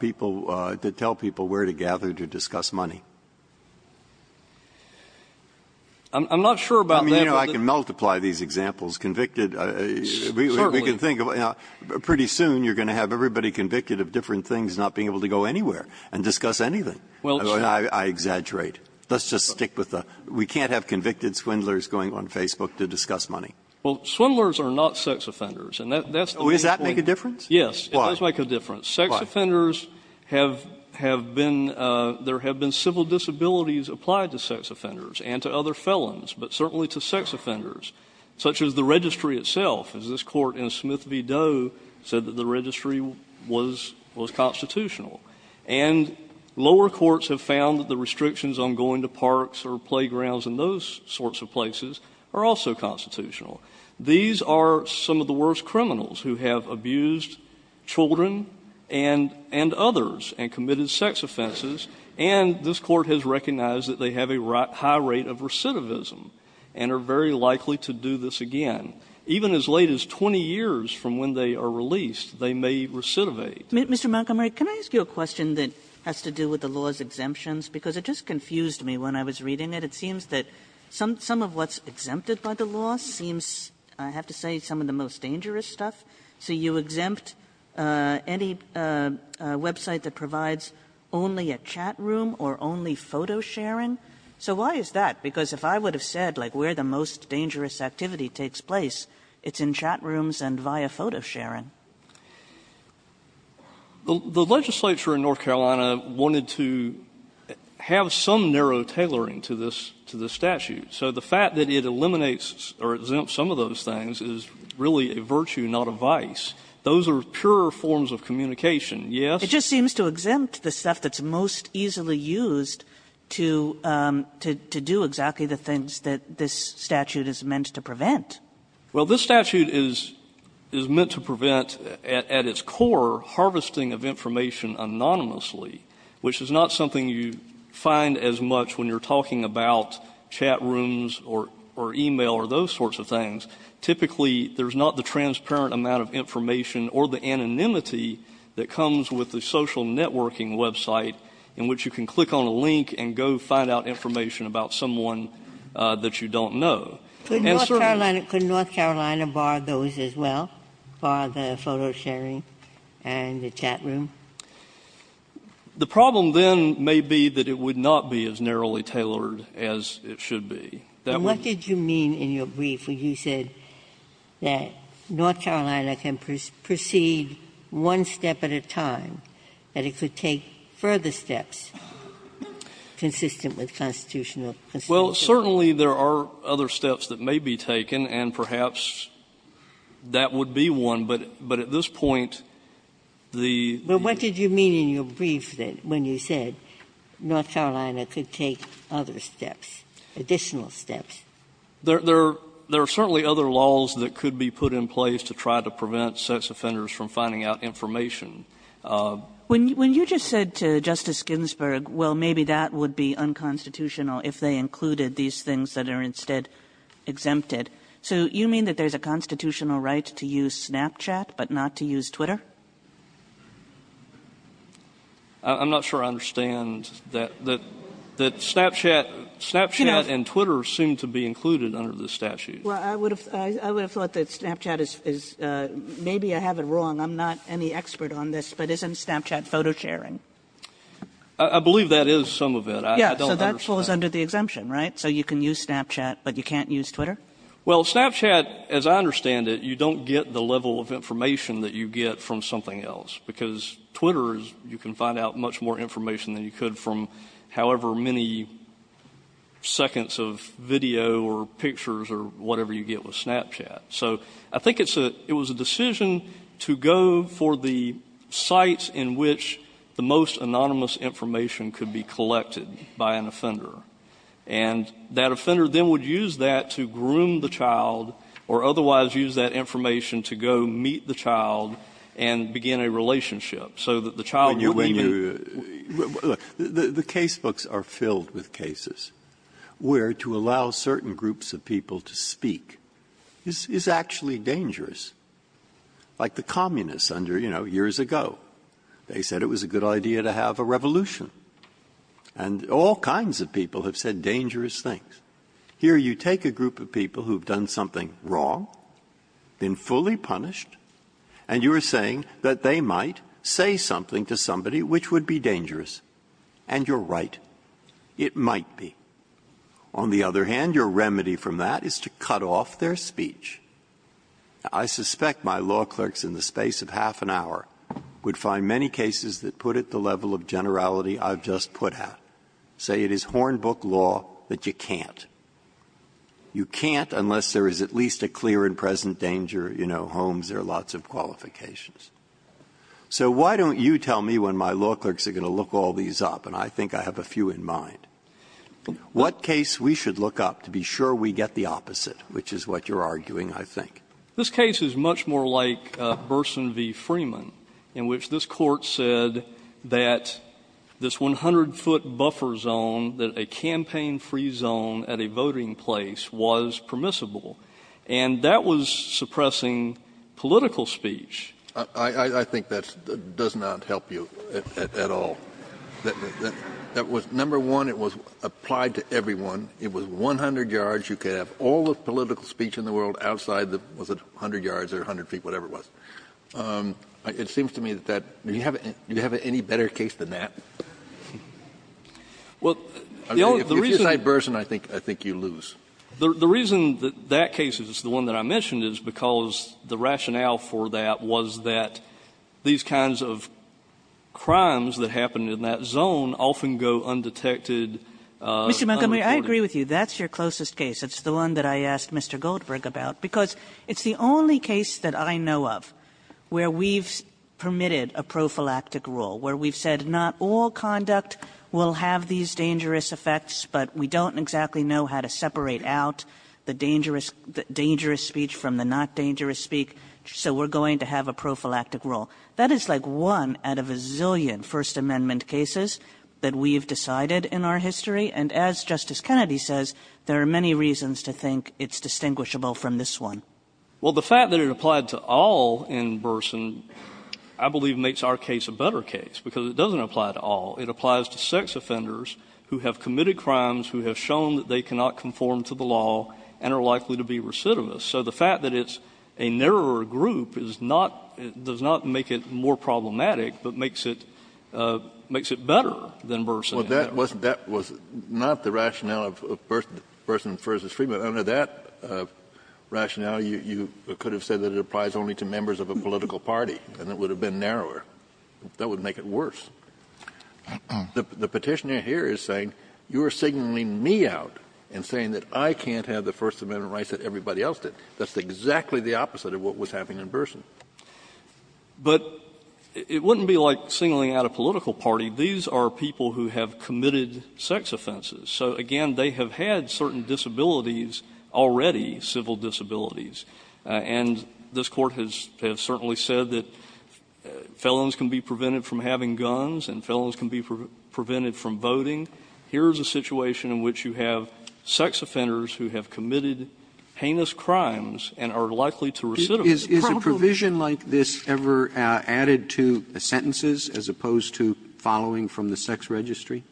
people where to gather to discuss money? I'm not sure about that. I can multiply these examples. Convicted, we can think of, pretty soon you're going to have everybody convicted of different things not being able to go anywhere and discuss anything. I exaggerate. Let's just stick with the we can't have convicted swindlers going on Facebook to discuss money. Well, swindlers are not sex offenders. Does that make a difference? Yes, it does make a difference. Sex offenders have been, there have been civil disabilities applied to sex offenders and to other felons. But certainly to sex offenders, such as the registry itself, as this court in Smith v. Doe said that the registry was constitutional. And lower courts have found that the restrictions on going to parks or playgrounds and those sorts of places are also constitutional. These are some of the worst criminals who have abused children and others and committed sex offenses. And this court has recognized that they have a high rate of recidivism and are very likely to do this again. Even as late as 20 years from when they are released, they may recidivate. Mr. Montgomery, can I ask you a question that has to do with the law's exemptions? Because it just confused me when I was reading it. It seems that some of what's exempted by the law seems, I have to say, some of the most dangerous stuff. So you exempt any website that provides only a chat room or only photo sharing? So why is that? Because if I would have said, like, where the most dangerous activity takes place, it's in chat rooms and via photo sharing. Montgomery, The legislature in North Carolina wanted to have some narrow tailoring to this statute. So the fact that it eliminates or exempts some of those things is really a virtue, not a vice. Those are pure forms of communication. Yes? Kagan. It just seems to exempt the stuff that's most easily used to do exactly the things that this statute is meant to prevent. Well, this statute is meant to prevent, at its core, harvesting of information anonymously, which is not something you find as much when you're talking about chat rooms or e-mail or those sorts of things. Typically, there's not the transparent amount of information or the anonymity that comes with the social networking website in which you can click on a link and go find out information about someone that you don't know. Could North Carolina bar those as well, bar the photo sharing and the chat room? The problem then may be that it would not be as narrowly tailored as it should be. That would be the case. And what did you mean in your brief when you said that North Carolina can proceed one step at a time, that it could take further steps consistent with constitutional consideration? Well, certainly there are other steps that may be taken, and perhaps that would be one. But at this point, the ---- But what did you mean in your brief when you said North Carolina could take other steps, additional steps? There are certainly other laws that could be put in place to try to prevent sex offenders from finding out information. When you just said to Justice Ginsburg, well, maybe that would be unconstitutional if they included these things that are instead exempted, so you mean that there's a constitutional right to use Snapchat, but not to use Twitter? I'm not sure I understand that Snapchat and Twitter seem to be included under the statute. Well, I would have thought that Snapchat is ---- maybe I have it wrong. I'm not any expert on this, but isn't Snapchat photo sharing? I believe that is some of it. I don't understand. Yes, so that falls under the exemption, right? So you can use Snapchat, but you can't use Twitter? Well, Snapchat, as I understand it, you don't get the level of information that you get from something else, because Twitter is you can find out much more information than you could from however many seconds of video or pictures or whatever you get with Snapchat. So I think it's a ---- it was a decision to go for the sites in which the most anonymous information could be collected by an offender. And that offender then would use that to groom the child or otherwise use that information to go meet the child and begin a relationship so that the child would be ---- When you ---- the case books are filled with cases where to allow certain groups of people to speak is actually dangerous. Like the communists under, you know, years ago, they said it was a good idea to have a revolution. And all kinds of people have said dangerous things. Here you take a group of people who have done something wrong, been fully punished, and you are saying that they might say something to somebody which would be dangerous. And you're right. It might be. On the other hand, your remedy from that is to cut off their speech. I suspect my law clerks in the space of half an hour would find many cases that put at the level of generality I've just put out, say it is Hornbook law that you can't. You can't unless there is at least a clear and present danger, you know, Holmes, there are lots of qualifications. So why don't you tell me when my law clerks are going to look all these up, and I think I have a few in mind, what case we should look up to be sure we get the opposite, which is what you're arguing, I think. This case is much more like Burson v. Freeman, in which this court said that this 100-foot buffer zone, that a campaign-free zone at a voting place was permissible. And that was suppressing political speech. I think that does not help you at all. That was number one, it was applied to everyone. It was 100 yards. You could have all the political speech in the world outside the, was it 100 yards or 100 feet, whatever it was. It seems to me that that, do you have any better case than that? If you cite Burson, I think you lose. The reason that that case is the one that I mentioned is because the rationale for that was that these kinds of crimes that happen in that zone often go undetected. Unreported. Kagan. Mr. Montgomery, I agree with you. That's your closest case. It's the one that I asked Mr. Goldberg about, because it's the only case that I know of where we've permitted a prophylactic rule, where we've said not all conduct will have these dangerous effects, but we don't exactly know how to separate out the dangerous, dangerous speech from the not dangerous speech. So we're going to have a prophylactic rule. That is like one out of a zillion First Amendment cases that we've decided in our history. And as Justice Kennedy says, there are many reasons to think it's distinguishable from this one. Well, the fact that it applied to all in Burson, I believe, makes our case a better case, because it doesn't apply to all. It applies to sex offenders who have committed crimes, who have shown that they cannot conform to the law, and are likely to be recidivists. So the fact that it's a narrower group is not — does not make it more problematic, but makes it — makes it better than Burson. Well, that wasn't — that was not the rationale of Burson v. Freeman. Under that rationale, you could have said that it applies only to members of a political party, and it would have been narrower. That would make it worse. The Petitioner here is saying, you are signaling me out and saying that I can't have the First Amendment rights that everybody else did. That's exactly the opposite of what was happening in Burson. But it wouldn't be like signaling out a political party. These are people who have committed sex offenses. So, again, they have had certain disabilities already, civil disabilities. And this Court has certainly said that felons can be prevented from having guns, and felons can be prevented from voting. Here is a situation in which you have sex offenders who have committed heinous crimes and are likely to recidivize. Roberts. Roberts. Is a provision like this ever added to sentences as opposed to following from the sex registry?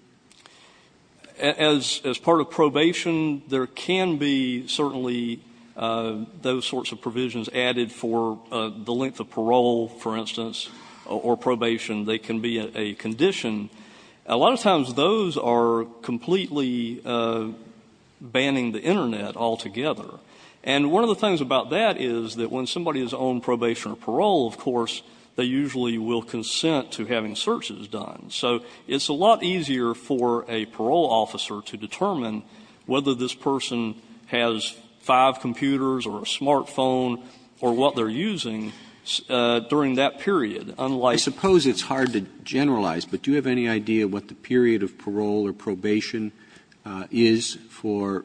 As part of probation, there can be certainly those sorts of provisions added for the length of parole, for instance, or probation. They can be a condition. A lot of times, those are completely banning the Internet altogether. And one of the things about that is that when somebody is on probation or parole, of course, they usually will consent to having searches done. So it's a lot easier for a parole officer to determine whether this person has five computers or a smartphone or what they're using during that period, unlike the It's hard to generalize, but do you have any idea what the period of parole or probation is for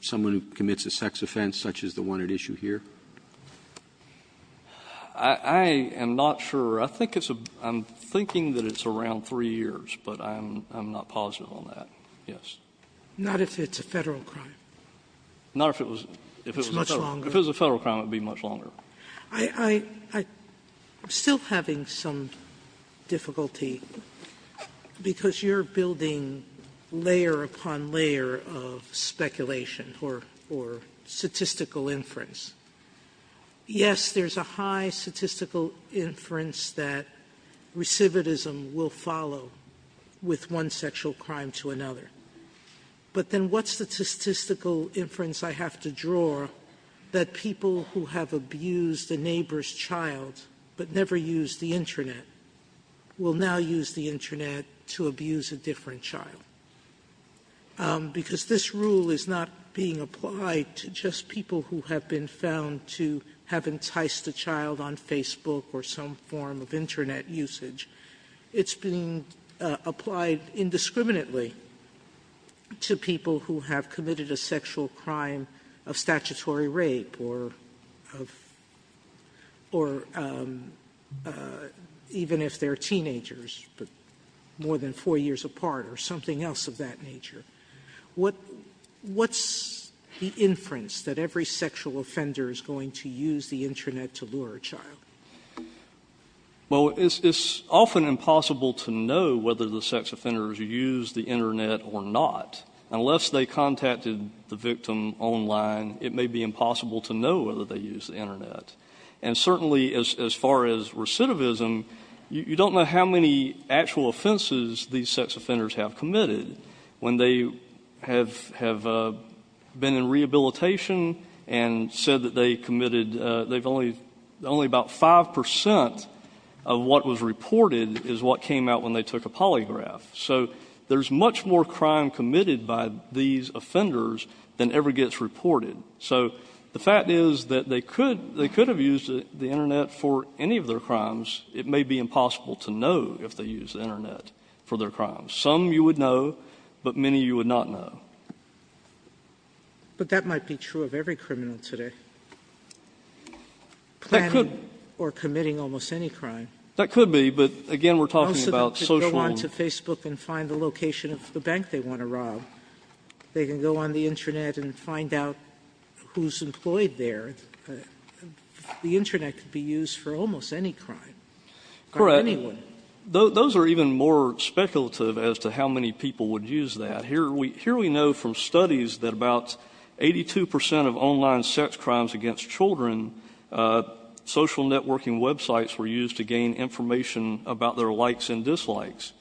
someone who commits a sex offense, such as the one at issue here? I am not sure. I think it's a — I'm thinking that it's around three years, but I'm not positive on that, yes. Not if it's a Federal crime? Not if it was — It's much longer. If it was a Federal crime, it would be much longer. Sotomayor, I'm still having some difficulty, because you're building layer upon layer of speculation or statistical inference. Yes, there's a high statistical inference that recidivism will follow with one sexual crime to another, but then what's the statistical inference I have to draw that people who have abused a neighbor's child but never used the Internet will now use the Internet to abuse a different child? Because this rule is not being applied to just people who have been found to have enticed a child on Facebook or some form of Internet usage. It's being applied indiscriminately to people who have committed a sexual crime of statutory rape or even if they're teenagers, but more than four years apart or something else of that nature. What's the inference that every sexual offender is going to use the Internet to lure a child? Well, it's often impossible to know whether the sex offenders use the Internet or not. Unless they contacted the victim online, it may be impossible to know whether they use the Internet. And certainly as far as recidivism, you don't know how many actual offenses these sex offenders have committed. When they have been in rehabilitation and said that they committed, only about 5 percent of what was reported is what came out when they took a polygraph. So there's much more crime committed by these offenders than ever gets reported. So the fact is that they could have used the Internet for any of their crimes. It may be impossible to know if they use the Internet for their crimes. Some you would know, but many you would not know. But that might be true of every criminal today. That could. Planning or committing almost any crime. That could be, but again, we're talking about social and… If they go to Facebook and find the location of the bank they want to rob, they can go on the Internet and find out who's employed there. The Internet could be used for almost any crime. Correct. For anyone. Those are even more speculative as to how many people would use that. Here we know from studies that about 82 percent of online sex crimes against children, social networking websites were used to gain information about their likes and dislikes.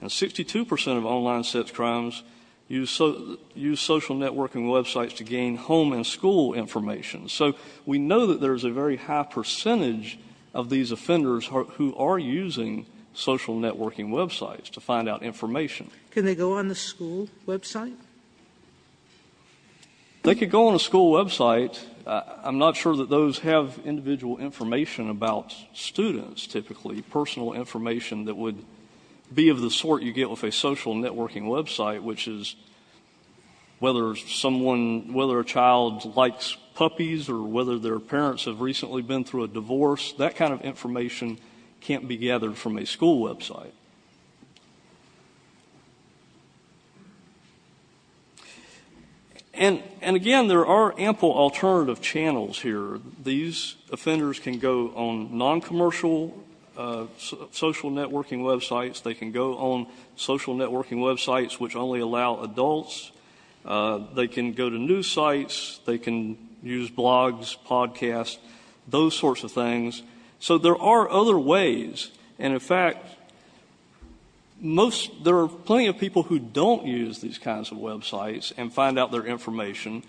And 62 percent of online sex crimes use social networking websites to gain home and school information. So we know that there's a very high percentage of these offenders who are using social networking websites to find out information. Can they go on the school website? They could go on a school website. I'm not sure that those have individual information about students, typically. Personal information that would be of the sort you get with a social networking website, which is whether someone, whether a child likes puppies or whether their parents have recently been through a divorce. That kind of information can't be gathered from a school website. And again, there are ample alternative channels here. These offenders can go on non-commercial social networking websites. They can go on social networking websites which only allow adults. They can go to news sites. They can use blogs, podcasts, those sorts of things. So there are other ways. And, in fact, most of there are plenty of people who don't use these kinds of websites and find out their information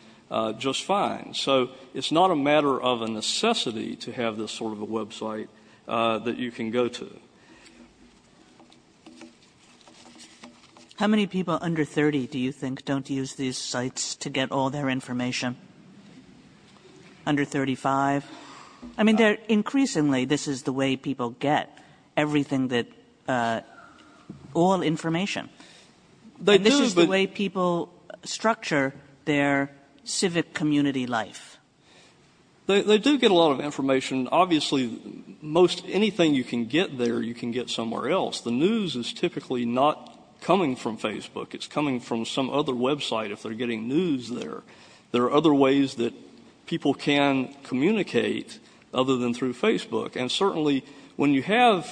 just fine. So it's not a matter of a necessity to have this sort of a website that you can go to. Kagan, how many people under 30 do you think don't use these sites to get all their information, under 35? I mean, they're increasingly, this is the way people get everything that, all information. And this is the way people structure their civic community life. They do get a lot of information. Obviously, most anything you can get there, you can get somewhere else. The news is typically not coming from Facebook. It's coming from some other website if they're getting news there. There are other ways that people can communicate other than through Facebook. And certainly, when you have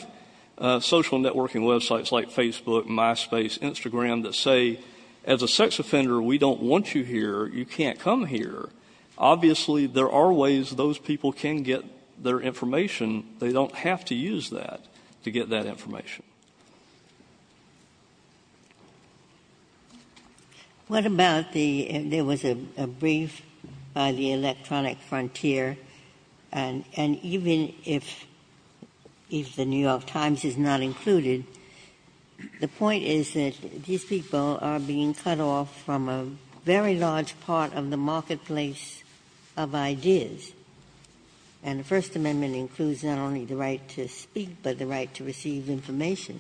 social networking websites like Facebook, MySpace, Instagram that say, as a sex offender, we don't want you here, you can't come here. Obviously, there are ways those people can get their information. They don't have to use that to get that information. What about the, there was a brief by the Electronic Frontier, and even if the New York Times is not included, the point is that these people are being cut off from a very large part of the marketplace of ideas. And the First Amendment includes not only the right to speak, but the right to receive information.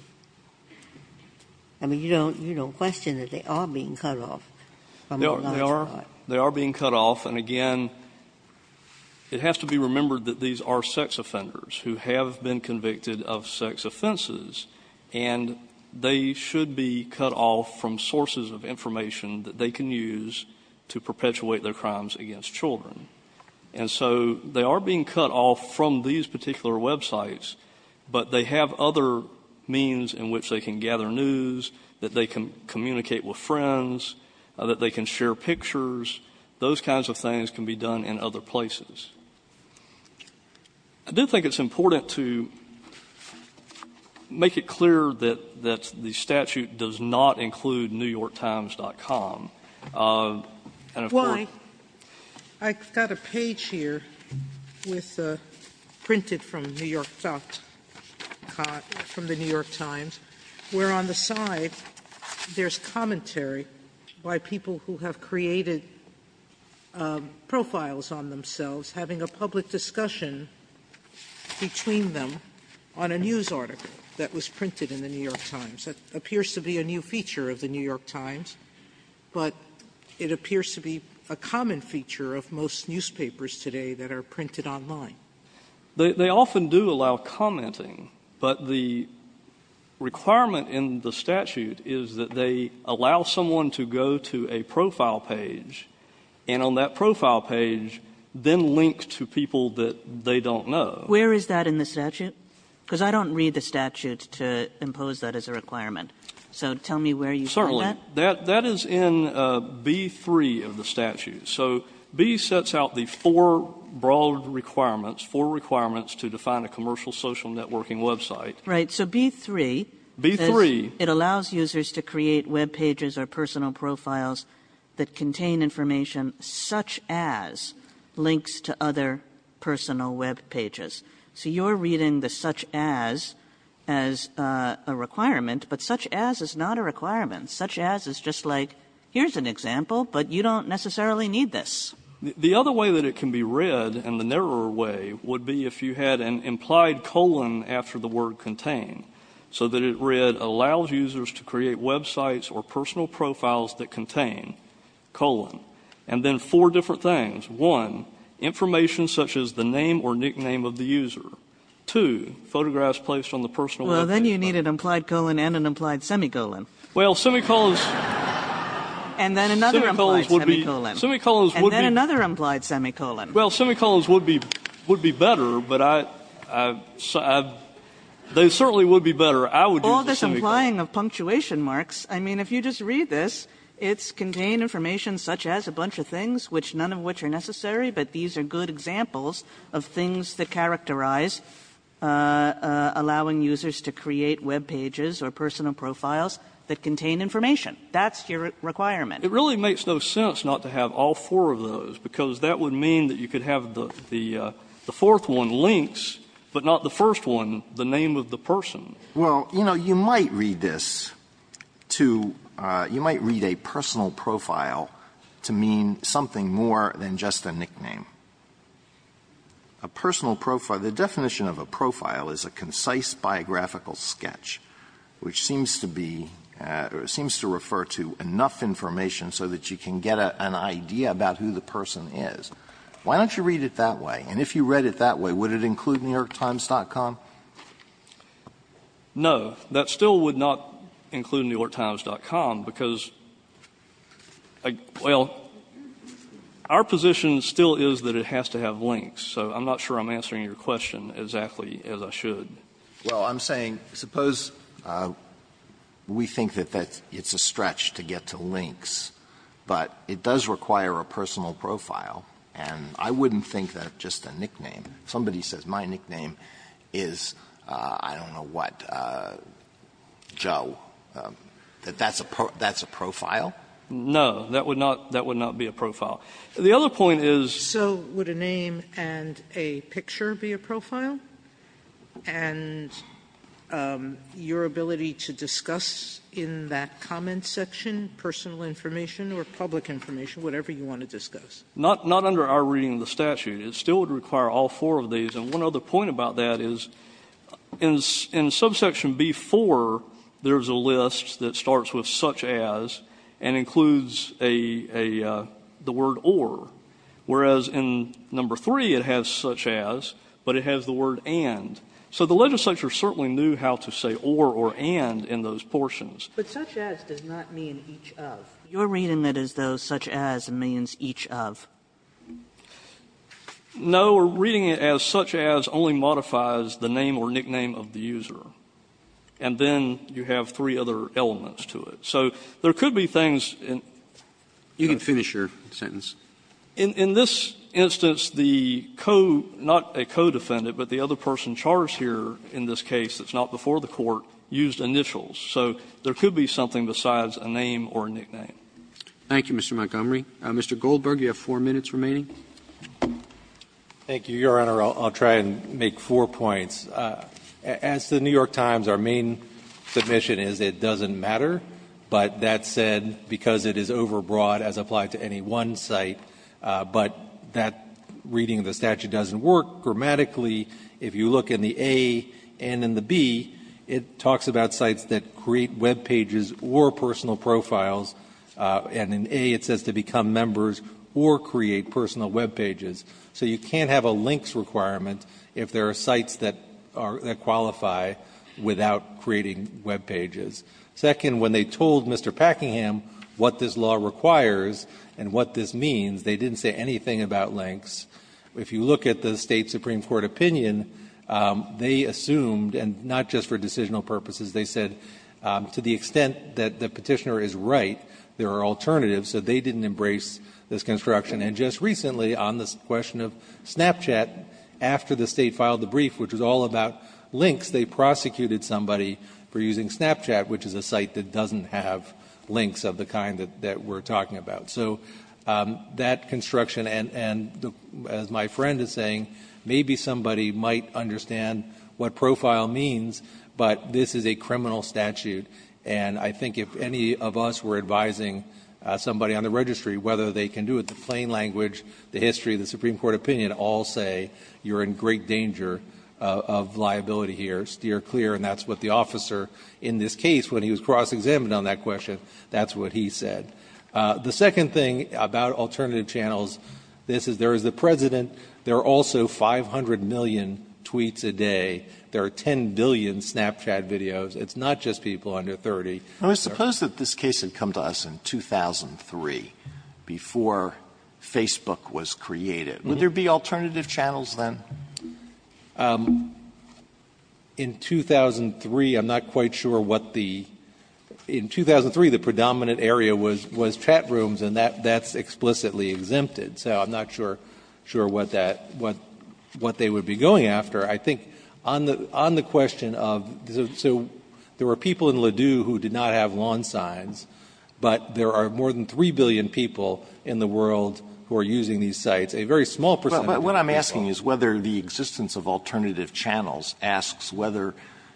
I mean, you don't question that they are being cut off from a large part. They are being cut off, and again, it has to be remembered that these are sex offenders who have been convicted of sex offenses. And they should be cut off from sources of information that they can use to perpetuate their crimes against children. And so, they are being cut off from these particular websites, but they have other means in which they can gather news, that they can communicate with friends, that they can share pictures. Those kinds of things can be done in other places. I do think it's important to make it clear that the statute does not include NewYorkTimes.com. And, of course- I've got a page here printed from the New York Times, where on the side, there's commentary by people who have created profiles on themselves, having a public discussion between them on a news article that was printed in the New York Times. That appears to be a new feature of the New York Times, but it appears to be a common feature of most newspapers today that are printed online. They often do allow commenting, but the requirement in the statute is that they allow someone to go to a profile page, and on that profile page, then link to people that they don't know. Where is that in the statute? Because I don't read the statute to impose that as a requirement. So, tell me where you find that. Certainly. That is in B-3 of the statute. So, B sets out the four broad requirements, four requirements to define a commercial social networking website. Right, so B-3- B-3- It allows users to create web pages or personal profiles that contain information such as links to other personal web pages. So, you're reading the such as as a requirement, but such as is not a requirement. Such as is just like, here's an example, but you don't necessarily need this. The other way that it can be read, and the narrower way, would be if you had an implied colon after the word contain. So that it read, allows users to create websites or personal profiles that contain, colon. And then four different things. One, information such as the name or nickname of the user. Two, photographs placed on the personal web page. Well, then you need an implied colon and an implied semicolon. Well, semicolons. And then another implied semicolon. And then another implied semicolon. Well, semicolons would be better, but they certainly would be better. I would use a semicolon. All this implying of punctuation marks. I mean, if you just read this, it's contain information such as a bunch of things, which none of which are necessary. But these are good examples of things that characterize allowing users to create web pages or personal profiles that contain information. That's your requirement. It really makes no sense not to have all four of those. Because that would mean that you could have the fourth one, links, but not the first one, the name of the person. Alito, you might read this to you might read a personal profile to mean something more than just a nickname. A personal profile, the definition of a profile is a concise biographical sketch, which seems to be or seems to refer to enough information so that you can get an idea about who the person is. Why don't you read it that way? And if you read it that way, would it include New York Times.com? No. That still would not include New York Times.com, because, well, our position still is that it has to have links. So I'm not sure I'm answering your question exactly as I should. Alito, I'm saying suppose we think that that's a stretch to get to links, but it does require a personal profile, and I wouldn't think that just a nickname. Somebody says my nickname is, I don't know what, Joe, that that's a profile? No. That would not be a profile. The other point is so would a name and a picture be a profile? And your ability to discuss in that comment section personal information or public information, whatever you want to discuss. Not under our reading of the statute. It still would require all four of these. And one other point about that is in subsection B4, there's a list that starts with such as and includes the word or, whereas in number 3, it has such as, but it has the word and. So the legislature certainly knew how to say or or and in those portions. But such as does not mean each of. Your reading that is, though, such as means each of. No, we're reading it as such as only modifies the name or nickname of the user. And then you have three other elements to it. So there could be things in. You can finish your sentence. In this instance, the co- not a co-defendant, but the other person charged here in this case that's not before the court used initials. So there could be something besides a name or a nickname. Robertson, Thank you, Mr. Montgomery. Mr. Goldberg, you have four minutes remaining. Goldberg, Thank you, Your Honor. I'll try and make four points. As to the New York Times, our main submission is it doesn't matter, but that said because it is overbroad as applied to any one site, but that reading of the statute doesn't work grammatically. If you look in the A and in the B, it talks about sites that create web pages or personal profiles, and in A it says to become members or create personal web pages. So you can't have a links requirement if there are sites that are — that qualify without creating web pages. Second, when they told Mr. Packingham what this law requires and what this means, they didn't say anything about links. If you look at the State Supreme Court opinion, they assumed, and not just for decisional purposes, they said to the extent that the Petitioner is right, there are alternatives, so they didn't embrace this construction. And just recently, on this question of Snapchat, after the State filed the brief, which was all about links, they prosecuted somebody for using Snapchat, which is a site that doesn't have links of the kind that we're talking about. So that construction, and as my friend is saying, maybe somebody might understand what profile means, but this is a criminal statute, and I think if any of us were advising somebody on the registry whether they can do it, the plain language, the history, the Supreme Court opinion all say you're in great danger of liability here. Steer clear, and that's what the officer, in this case, when he was cross-examined on that question, that's what he said. The second thing about alternative channels, this is there is the President. There are also 500 million tweets a day. There are 10 billion Snapchat videos. It's not just people under 30. Alitoson I suppose that this case had come to us in 2003, before Facebook was created. Would there be alternative channels then? Stewart In 2003, I'm not quite sure what the – in 2003, the predominant area was chat rooms, and that's explicitly exempted. So I'm not sure what that – what they would be going after. I think on the question of – so there were people in Ladue who did not have lawn signs, but there are more than 3 billion people in the world who are using these sites, a very small percentage of people. Alitoson But what I'm asking is whether the existence of alternative channels asks whether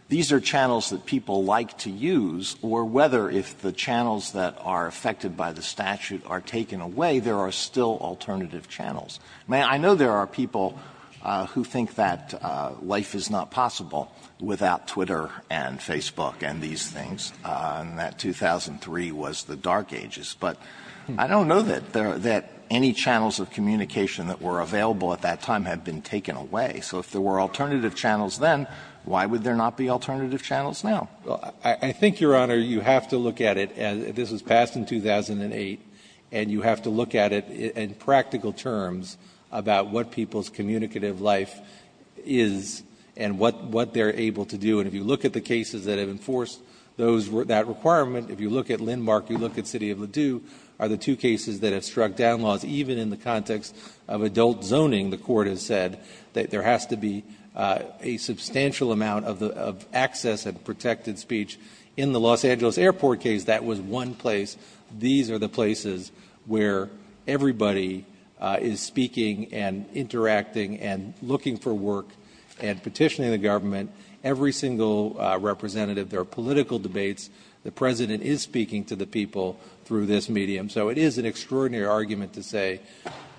these are channels that people like to use, or whether if the channels that are affected by the statute are taken away, there are still alternative channels. I mean, I know there are people who think that life is not possible without Twitter and Facebook and these things, and that 2003 was the dark ages. But I don't know that any channels of communication that were available at that time had been taken away. So if there were alternative channels then, why would there not be alternative channels now? Well, I think, Your Honor, you have to look at it – this was passed in 2008 – and you have to look at it in practical terms about what people's communicative life is and what they're able to do. And if you look at the cases that have enforced those – that requirement, if you look at Lindmark, you look at City of Ladue, are the two cases that have struck down laws even in the context of adult zoning, the Court has said, that there has to be a substantial amount of access and protected speech. In the Los Angeles Airport case, that was one place. These are the places where everybody is speaking and interacting and looking for work and petitioning the government. Every single representative, there are political debates. The President is speaking to the people through this medium. So it is an extraordinary argument to say,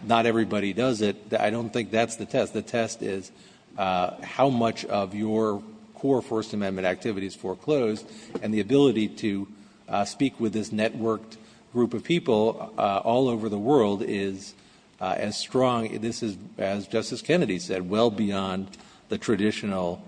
not everybody does it. I don't think that's the test. The test is how much of your core First Amendment activities foreclosed, and the ability to speak with this networked group of people all over the world is as strong – this is, as Justice Kennedy said, well beyond the traditional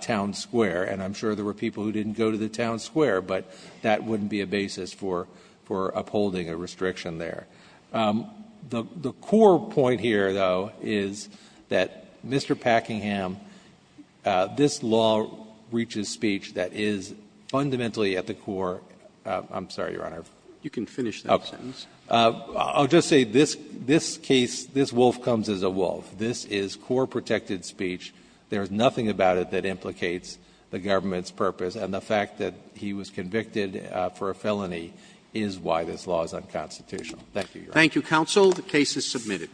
town square. And I'm sure there were people who didn't go to the town square, but that wouldn't be a basis for upholding a restriction there. The core point here, though, is that Mr. Packingham, this law reaches speech that is fundamentally at the core – I'm sorry, Your Honor. Roberts. You can finish that sentence. I'll just say this case, this wolf comes as a wolf. This is core protected speech. There is nothing about it that implicates the government's purpose. And the fact that he was convicted for a felony is why this law is unconstitutional. Thank you, Your Honor. Thank you, counsel. The case is submitted.